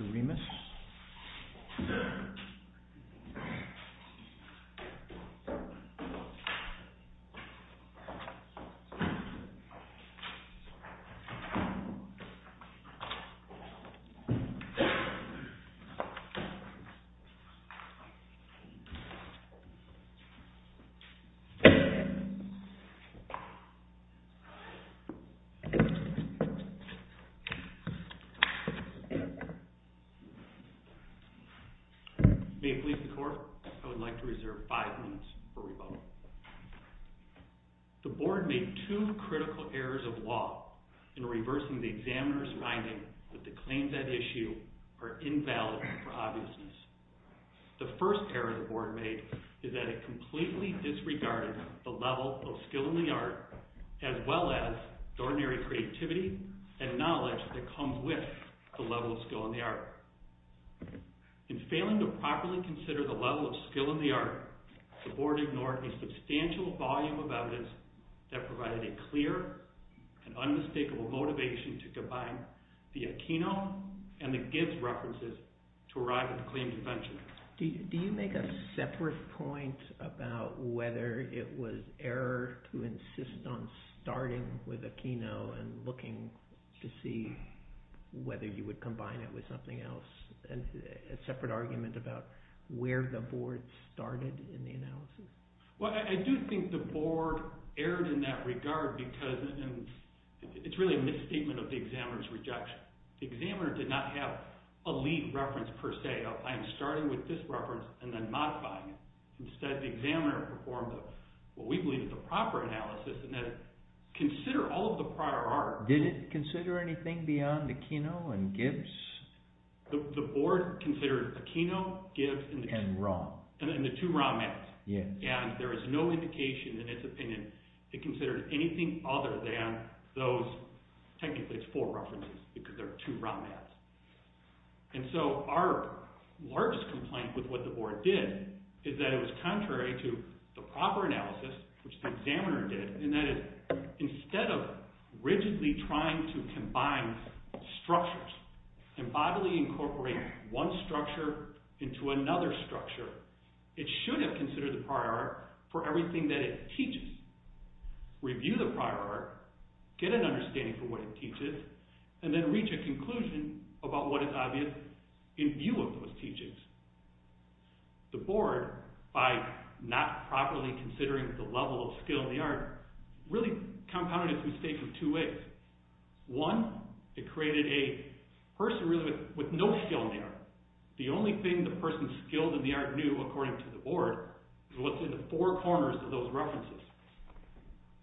Mr. Remus. May it please the court, I would like to reserve five minutes for rebuttal. The board made two critical errors of law in reversing the examiner's finding that the claims at issue are invalid for obviousness. The first error the board made is that it completely disregarded the level of skill in the art, as well as the ordinary creativity and knowledge that comes with the level of skill in the art. In failing to properly consider the level of skill in the art, the board ignored a substantial volume of evidence that provided a clear and unmistakable motivation to combine the Aquino and the Gibbs references to arrive at the claim convention. Do you make a separate point about whether it was error to insist on starting with Aquino and looking to see whether you would combine it with something else? A separate argument about where the board started in the analysis? I do think the board erred in that regard because it's really a misstatement of the examiner's rejection. The examiner did not have a lead reference per se of, I am starting with this reference and then modifying it. Instead, the examiner performed what we believe is a proper analysis in that it considered all of the prior art. Did it consider anything beyond Aquino and Gibbs? The board considered Aquino, Gibbs, and the two raw maps. There is no indication in its opinion it considered anything other than those, technically it's four references, because there are two raw maps. Our largest complaint with what the board did is that it was contrary to the proper analysis, which the examiner did, in that instead of rigidly trying to combine structures and bodily incorporate one structure into another structure, it should have considered the prior art for everything that it teaches. Review the prior art, get an understanding for what it teaches, and then reach a conclusion about what is obvious in view of those teachings. The board, by not properly considering the level of skill in the art, really compounded its mistake in two ways. The only thing the person skilled in the art knew, according to the board, is what's in the four corners of those references.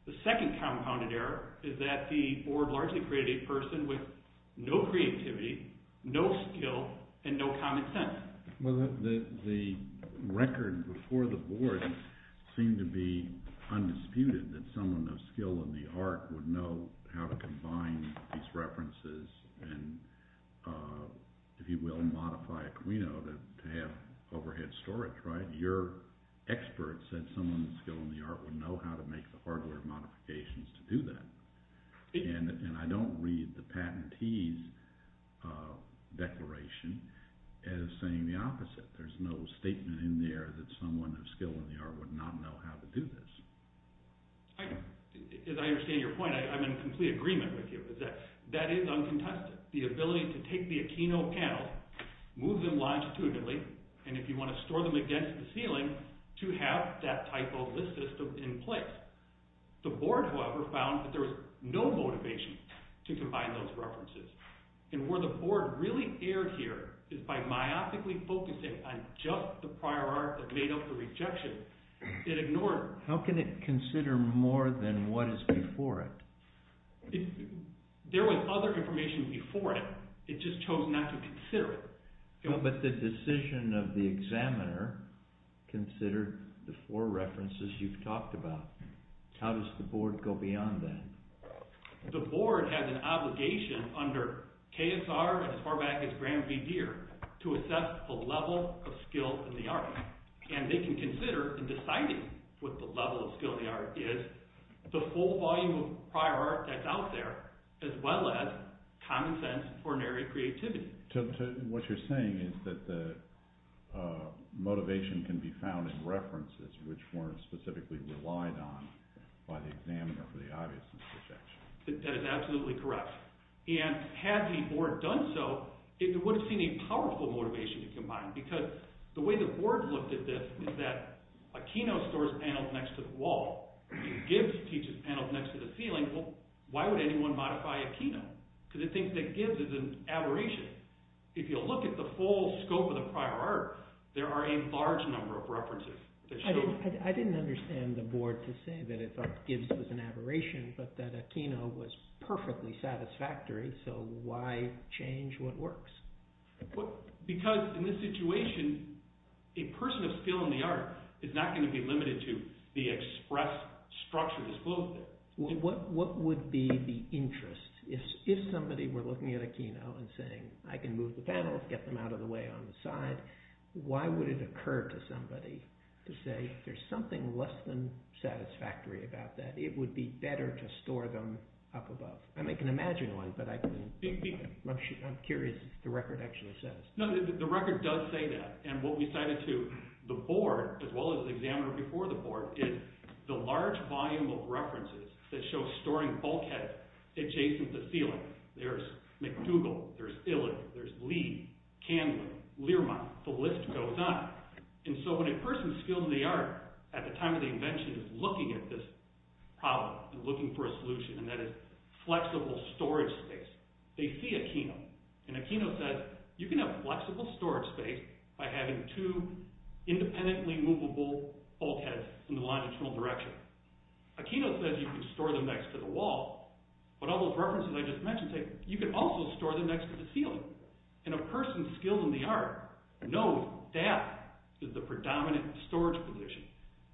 The second compounded error is that the board largely created a person with no creativity, no skill, and no common sense. The record before the board seemed to be undisputed that someone of skill in the art would know how to combine these references and, if you will, modify a Camino to have overhead storage. Your expert said someone with skill in the art would know how to make the hardware modifications to do that. And I don't read the patentee's declaration as saying the opposite. There's no statement in there that someone of skill in the art would not know how to do this. As I understand your point, I'm in complete agreement with you. That is uncontested. The ability to take the Aquino panels, move them longitudinally, and if you want to store them against the ceiling, to have that type of list system in place. The board, however, found that there was no motivation to combine those references. And where the board really erred here is by myopically focusing on just the prior art that made up the rejection, it ignored it. How can it consider more than what is before it? There was other information before it. It just chose not to consider it. But the decision of the examiner considered the four references you've talked about. How does the board go beyond that? The board has an obligation under KSR and as far back as Graham V. Deere to assess the level of skill in the art. And they can consider in deciding what the level of skill in the art is, the full volume of prior art that's out there, as well as common sense, ordinary creativity. So what you're saying is that the motivation can be found in references which weren't specifically relied on by the examiner for the obvious rejection. That is absolutely correct. And had the board done so, it would have seen a powerful motivation to combine because the way the board looked at this is that Aquino stores panels next to the wall. Gibbs teaches panels next to the ceiling. Well, why would anyone modify Aquino? Because it thinks that Gibbs is an aberration. If you look at the full scope of the prior art, there are a large number of references. I didn't understand the board to say that it thought Gibbs was an aberration but that Aquino was perfectly satisfactory, so why change what works? Because in this situation, a person of skill in the art is not going to be limited to the express structure that's built there. What would be the interest? If somebody were looking at Aquino and saying, I can move the panels, get them out of the way on the side, why would it occur to somebody to say, if there's something less than satisfactory about that, it would be better to store them up above? I can imagine one, but I'm curious what the record actually says. The record does say that, and what we cited to the board, as well as the examiner before the board, is the large volume of references that show storing bulkhead adjacent to ceiling. There's McDougall, there's Illick, there's Lee, Candlin, Learmonth, the list goes on. And so when a person of skill in the art, at the time of the invention, is looking at this problem and looking for a solution, and that is flexible storage space, they see Aquino. And Aquino says, you can have flexible storage space by having two independently movable bulkheads in the longitudinal direction. Aquino says you can store them next to the wall, but all those references I just mentioned say, you can also store them next to the ceiling. And a person skilled in the art knows that is the predominant storage position,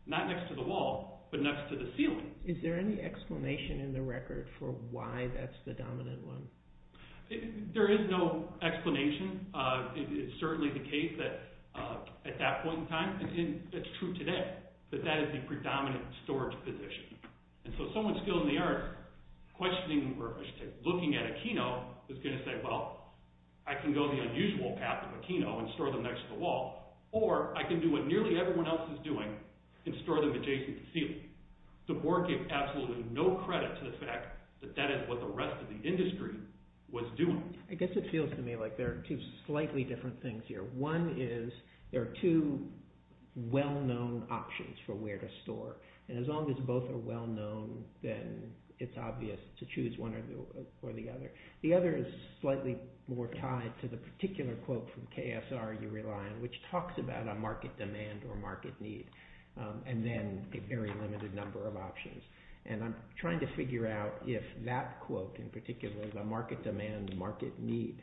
not next to the wall, but next to the ceiling. Is there any explanation in the record for why that's the dominant one? There is no explanation. It's certainly the case that at that point in time, and it's true today, that that is the predominant storage position. And so someone skilled in the art, looking at Aquino, is going to say, well, I can go the unusual path of Aquino and store them next to the wall, or I can do what nearly everyone else is doing and store them adjacent to ceiling. The board gave absolutely no credit to the fact that that is what the rest of the industry was doing. I guess it feels to me like there are two slightly different things here. One is there are two well-known options for where to store. And as long as both are well-known, then it's obvious to choose one or the other. The other is slightly more tied to the particular quote from KSR you rely on, which talks about a market demand or market need, and then a very limited number of options. And I'm trying to figure out if that quote in particular, the market demand, market need,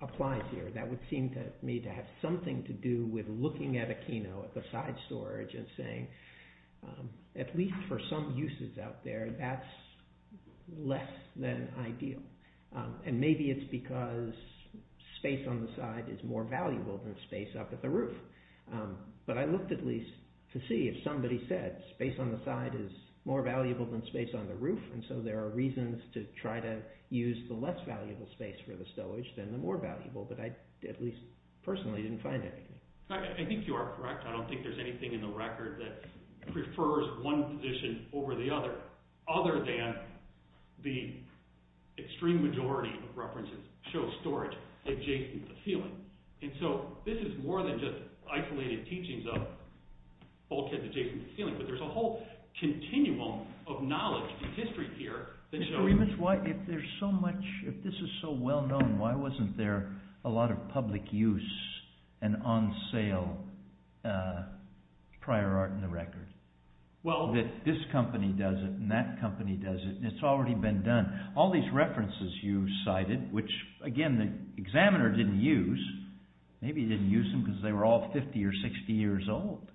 applies here. That would seem to me to have something to do with looking at Aquino, at the side storage, and saying, at least for some uses out there, that's less than ideal. And maybe it's because space on the side is more valuable than space up at the roof. But I looked at least to see if somebody said, space on the side is more valuable than space on the roof, and so there are reasons to try to use the less valuable space for the stowage than the more valuable, but I at least personally didn't find anything. I think you are correct. I don't think there's anything in the record that prefers one position over the other, other than the extreme majority of references show storage adjacent to the ceiling. And so this is more than just isolated teachings of bulkheads adjacent to the ceiling, but there's a whole continuum of knowledge and history here. Mr. Riemensch, if there's so much, if this is so well-known, why wasn't there a lot of public use and on-sale prior art in the record? That this company does it and that company does it, and it's already been done. All these references you cited, which again, the examiner didn't use. Maybe he didn't use them because they were all 50 or 60 years old.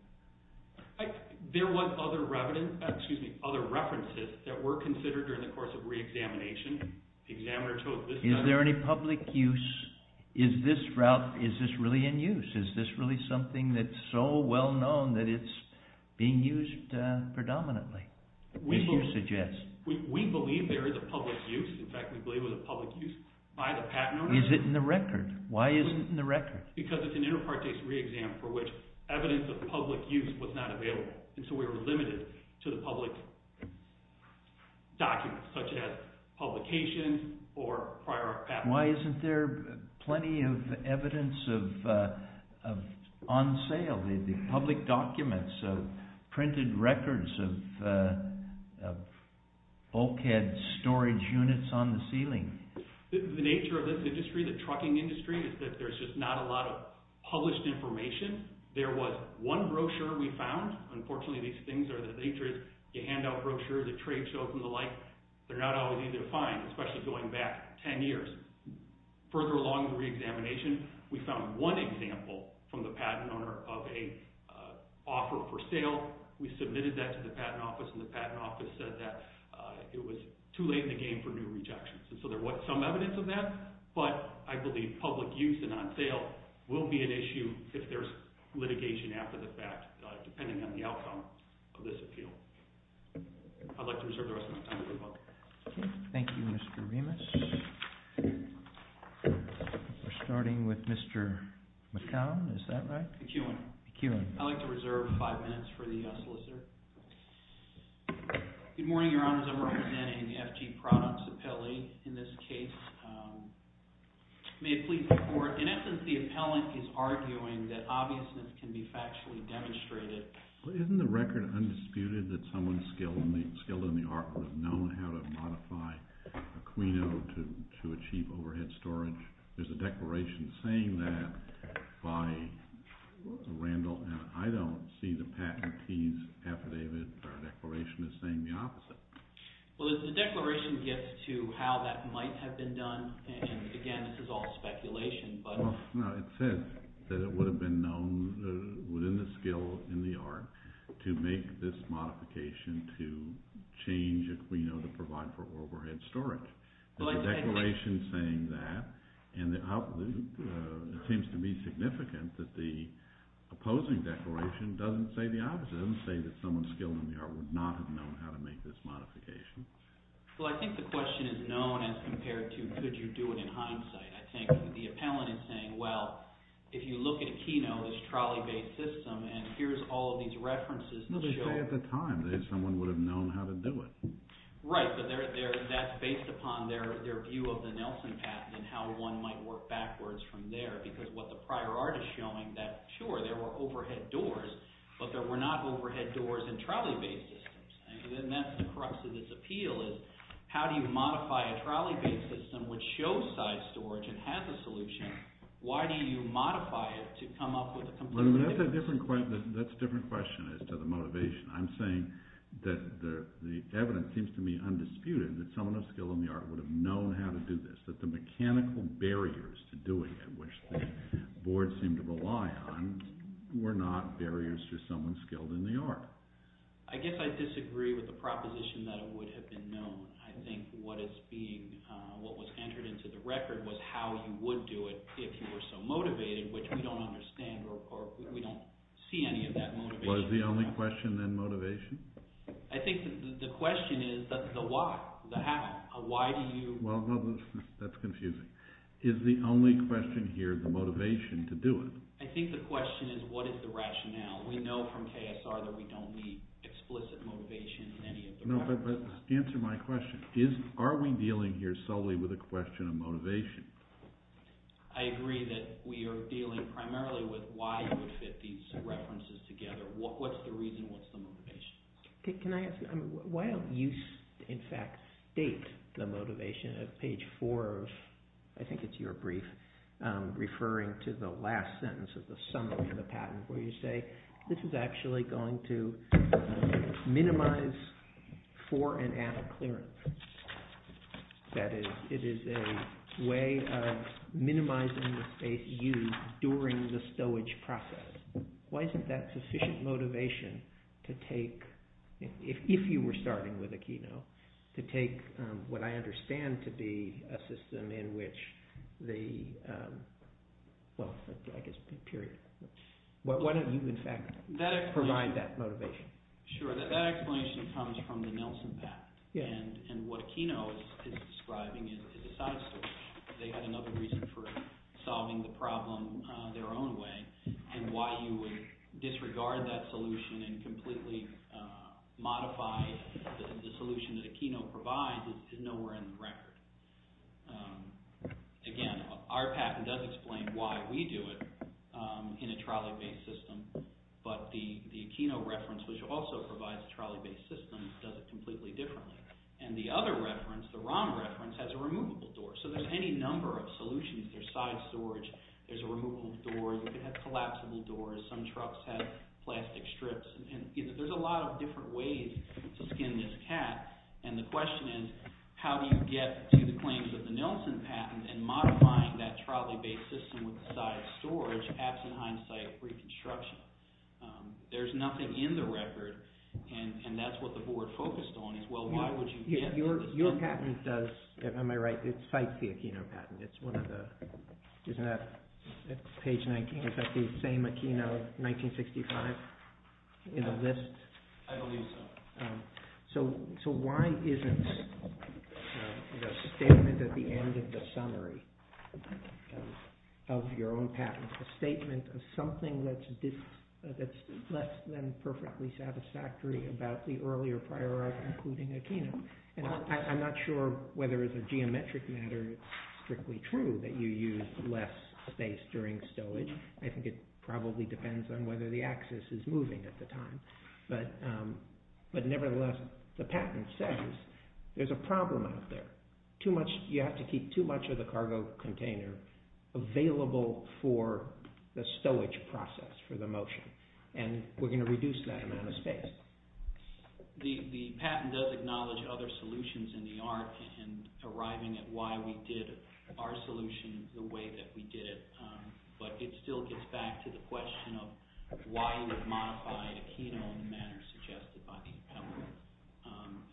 There were other references that were considered during the course of re-examination. The examiner told us this is not... Is there any public use? Is this route, is this really in use? Is this really something that's so well-known that it's being used predominantly, as you suggest? We believe there is a public use. In fact, we believe it was a public use by the patent owner. Is it in the record? Why is it in the record? Because it's an inter partes re-exam for which evidence of public use was not available. And so we were limited to the public documents, such as publications or prior art patents. In fact, why isn't there plenty of evidence of on-sale, the public documents, printed records of bulkhead storage units on the ceiling? The nature of this industry, the trucking industry, is that there's just not a lot of published information. There was one brochure we found. Unfortunately, these things are... The nature is you hand out brochures, the trade shows and the like, they're not always easy to find, especially going back 10 years. Further along the re-examination, we found one example from the patent owner of an offer for sale. We submitted that to the patent office, and the patent office said that it was too late in the game for new rejections. And so there was some evidence of that, but I believe public use and on-sale will be an issue if there's litigation after the fact, depending on the outcome of this appeal. I'd like to reserve the rest of my time for the book. Thank you, Mr. Remus. We're starting with Mr. McCown, is that right? McEwen. McEwen. I'd like to reserve five minutes for the solicitor. Good morning, Your Honors. I'm representing the FG Products appellee in this case. May it please the Court. In essence, the appellant is arguing that obviousness can be factually demonstrated. Well, isn't the record undisputed that someone skilled in the art was known how to modify Aquino to achieve overhead storage? There's a declaration saying that by Randall, and I don't see the patentee's affidavit or declaration as saying the opposite. Well, the declaration gets to how that might have been done, and again, this is all speculation. It says that it would have been known within the skill in the art to make this modification to change Aquino to provide for overhead storage. There's a declaration saying that, and it seems to be significant that the opposing declaration doesn't say the opposite. It doesn't say that someone skilled in the art would not have known how to make this modification. Well, I think the question is known as compared to could you do it in hindsight. I think the appellant is saying, well, if you look at Aquino, this trolley-based system, and here's all of these references. They say at the time that someone would have known how to do it. Right, but that's based upon their view of the Nelson patent and how one might work backwards from there, because what the prior art is showing that, sure, there were overhead doors, but there were not overhead doors in trolley-based systems. That's the crux of this appeal is how do you modify a trolley-based system which shows side storage and has a solution? Why do you modify it to come up with a completely different— That's a different question as to the motivation. I'm saying that the evidence seems to me undisputed that someone of skill in the art would have known how to do this, that the mechanical barriers to doing it, which the board seemed to rely on, were not barriers to someone skilled in the art. I guess I disagree with the proposition that it would have been known. I think what is being—what was entered into the record was how you would do it if you were so motivated, which we don't understand or we don't see any of that motivation. Well, is the only question then motivation? I think the question is the why, the how. Why do you— Well, no, that's confusing. Is the only question here the motivation to do it? I think the question is what is the rationale? We know from KSR that we don't need explicit motivation in any of the references. No, but answer my question. Are we dealing here solely with a question of motivation? I agree that we are dealing primarily with why you would fit these references together. Can I ask—why don't you, in fact, state the motivation of page four of—I think it's your brief, referring to the last sentence of the summary of the patent where you say, this is actually going to minimize for and at a clearance. That is, it is a way of minimizing the space used during the stowage process. Why isn't that sufficient motivation to take, if you were starting with Aquino, to take what I understand to be a system in which the—well, I guess period. Why don't you, in fact, provide that motivation? Sure, that explanation comes from the Nelson patent, and what Aquino is describing is a side story. They had another reason for solving the problem their own way, and why you would disregard that solution and completely modify the solution that Aquino provides is nowhere in the record. Again, our patent does explain why we do it in a trolley-based system, but the Aquino reference, which also provides a trolley-based system, does it completely differently. And the other reference, the ROM reference, has a removable door, so there's any number of solutions. There's side storage. There's a removable door. You could have collapsible doors. Some trucks have plastic strips, and there's a lot of different ways to skin this cat. And the question is, how do you get to the claims of the Nelson patent and modifying that trolley-based system with the side storage absent hindsight reconstruction? There's nothing in the record, and that's what the board focused on is, well, why would you get— Your patent does—am I right? It cites the Aquino patent. It's one of the—isn't that page 19? Is that the same Aquino 1965 in the list? I believe so. So why isn't the statement at the end of the summary of your own patent a statement of something that's less than perfectly satisfactory about the earlier prior art including Aquino? And I'm not sure whether as a geometric matter it's strictly true that you use less space during stowage. I think it probably depends on whether the axis is moving at the time. But nevertheless, the patent says there's a problem out there. Too much—you have to keep too much of the cargo container available for the stowage process for the motion, and we're going to reduce that amount of space. The patent does acknowledge other solutions in the art in arriving at why we did our solution the way that we did it, but it still gets back to the question of why you would modify Aquino in the manner suggested by the appellant.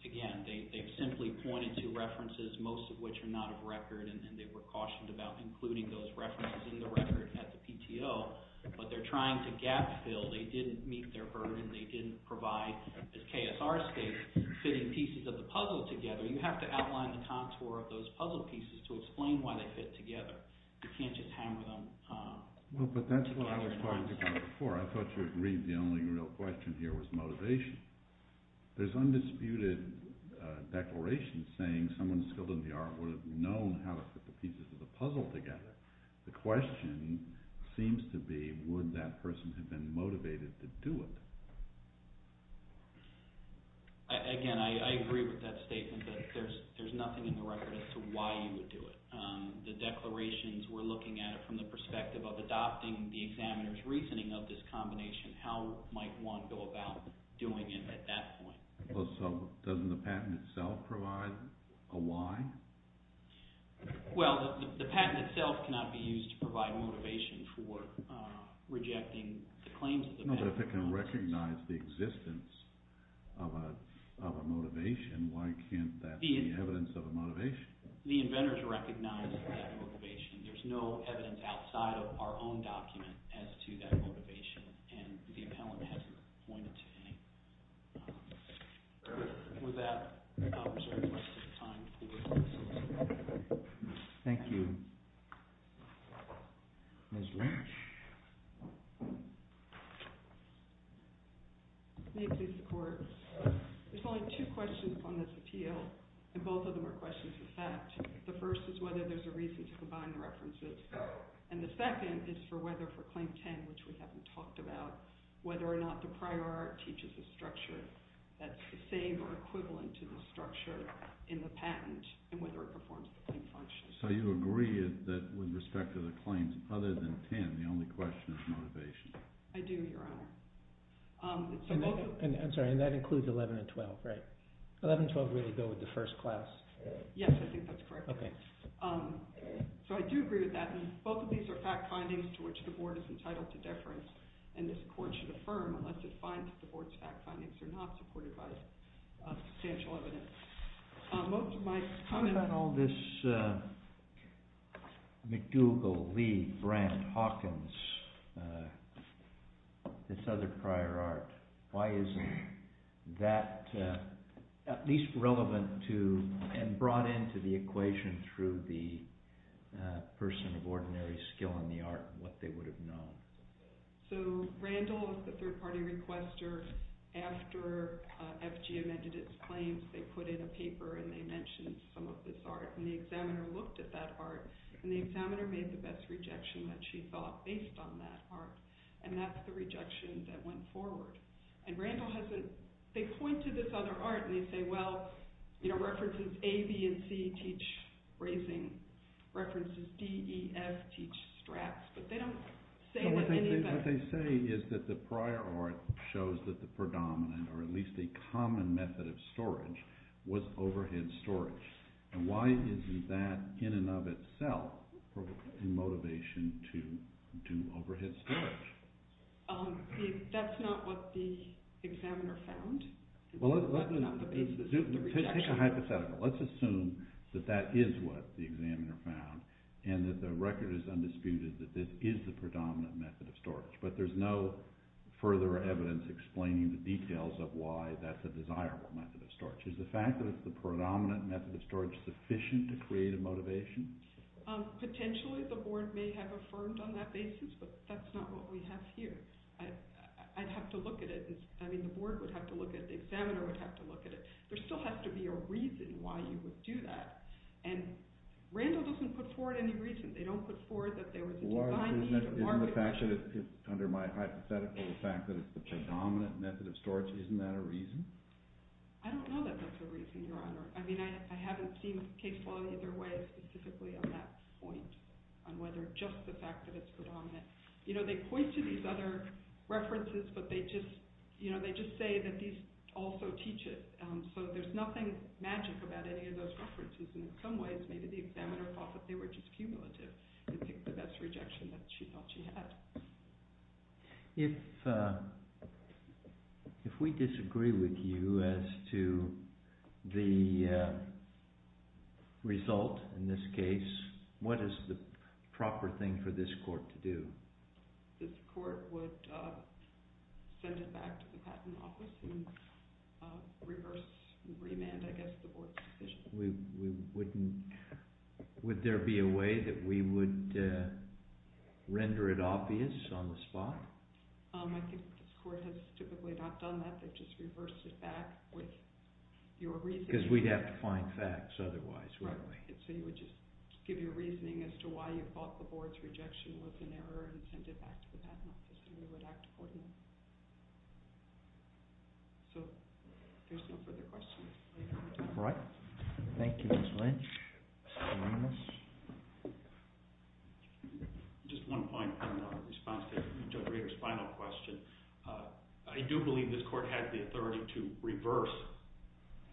Again, they've simply pointed to references, most of which are not of record, and they were cautioned about including those references in the record at the PTO, but they're trying to gap fill. They didn't meet their burden. They didn't provide, as KSR states, fitting pieces of the puzzle together. You have to outline the contour of those puzzle pieces to explain why they fit together. You can't just hammer them— Well, but that's what I was going to talk about before. I thought you agreed the only real question here was motivation. There's undisputed declarations saying someone skilled in the art would have known how to put the pieces of the puzzle together. The question seems to be would that person have been motivated to do it? Again, I agree with that statement, but there's nothing in the record as to why you would do it. The declarations were looking at it from the perspective of adopting the examiner's reasoning of this combination. How might one go about doing it at that point? So doesn't the patent itself provide a why? Well, the patent itself cannot be used to provide motivation for rejecting the claims of the patent. But if it can recognize the existence of a motivation, why can't that be evidence of a motivation? The inventors recognize that motivation. There's no evidence outside of our own document as to that motivation, and the appellant hasn't pointed to any. With that, I'll reserve the rest of the time for questions. Thank you. May it please the Court. There's only two questions on this appeal, and both of them are questions of fact. The first is whether there's a reason to combine the references, and the second is for whether for Claim 10, which we haven't talked about, whether or not the prior art teaches a structure that's the same or equivalent to the structure in the patent and whether it performs the claim function. So you agree that with respect to the claims other than 10, the only question is motivation? I do, Your Honor. I'm sorry, and that includes 11 and 12, right? 11 and 12 really go with the first class? Yes, I think that's correct. So I do agree with that, and both of these are fact findings to which the Board is entitled to deference, and this Court should affirm unless it finds that the Board's fact findings are not supported by substantial evidence. My comment on all this McDougal, Lee, Brandt, Hawkins, this other prior art, why isn't that at least relevant to and brought into the equation through the person of ordinary skill in the art what they would have known? So Randall, the third-party requester, after FG amended its claims, they put in a paper and they mentioned some of this art, and the examiner looked at that art, and the examiner made the best rejection that she thought based on that art, and that's the rejection that went forward. And Randall has a—they point to this other art, and they say, well, you know, references A, B, and C teach bracing. References D, E, F teach straps, but they don't say— What they say is that the prior art shows that the predominant, or at least a common method of storage, was overhead storage. And why isn't that in and of itself a motivation to do overhead storage? That's not what the examiner found. Well, let's take a hypothetical. Let's assume that that is what the examiner found, and that the record is undisputed that this is the predominant method of storage, but there's no further evidence explaining the details of why that's a desirable method of storage. Is the fact that it's the predominant method of storage sufficient to create a motivation? Potentially, the board may have affirmed on that basis, but that's not what we have here. I'd have to look at it. I mean, the board would have to look at it. The examiner would have to look at it. There still has to be a reason why you would do that. And Randall doesn't put forward any reason. They don't put forward that there was a design— Isn't the fact that, under my hypothetical, the fact that it's the predominant method of storage, isn't that a reason? I don't know that that's a reason, Your Honor. I mean, I haven't seen case law either way specifically on that point, on whether just the fact that it's predominant. You know, they point to these other references, but they just say that these also teach it. So there's nothing magic about any of those references. And in some ways, maybe the examiner thought that they were just cumulative. I think that that's a rejection that she thought she had. If we disagree with you as to the result in this case, what is the proper thing for this court to do? This court would send it back to the Patent Office and reverse—remand, I guess, the board's decision. We wouldn't—would there be a way that we would render it obvious on the spot? I think this court has typically not done that. They've just reversed it back with your reasoning. Because we'd have to find facts otherwise, wouldn't we? Right. So you would just give your reasoning as to why you thought the board's rejection was an error and send it back to the Patent Office, and we would act accordingly. So there's no further questions. All right. Thank you, Ms. Lynch. Just one point in response to Judge Rader's final question. I do believe this court has the authority to reverse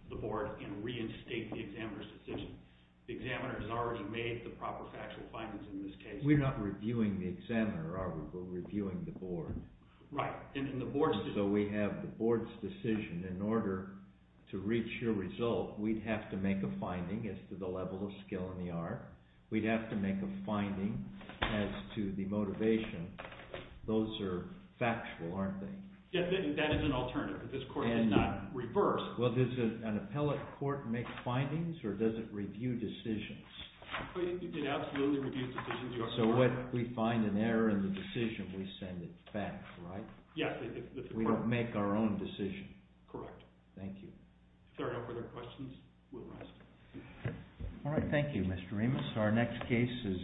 the board and reinstate the examiner's decision. The examiner has already made the proper factual findings in this case. We're not reviewing the examiner, are we? We're reviewing the board. Right. So we have the board's decision. In order to reach your result, we'd have to make a finding as to the level of skill in the art. We'd have to make a finding as to the motivation. Those are factual, aren't they? That is an alternative, but this court did not reverse. Well, does an appellate court make findings, or does it review decisions? It absolutely reviews decisions. So if we find an error in the decision, we send it back, right? Yes. We don't make our own decision. Correct. Thank you. If there are no further questions, we'll rise. All right. Thank you, Mr. Ramos. Our next case is Videri v. Ramos.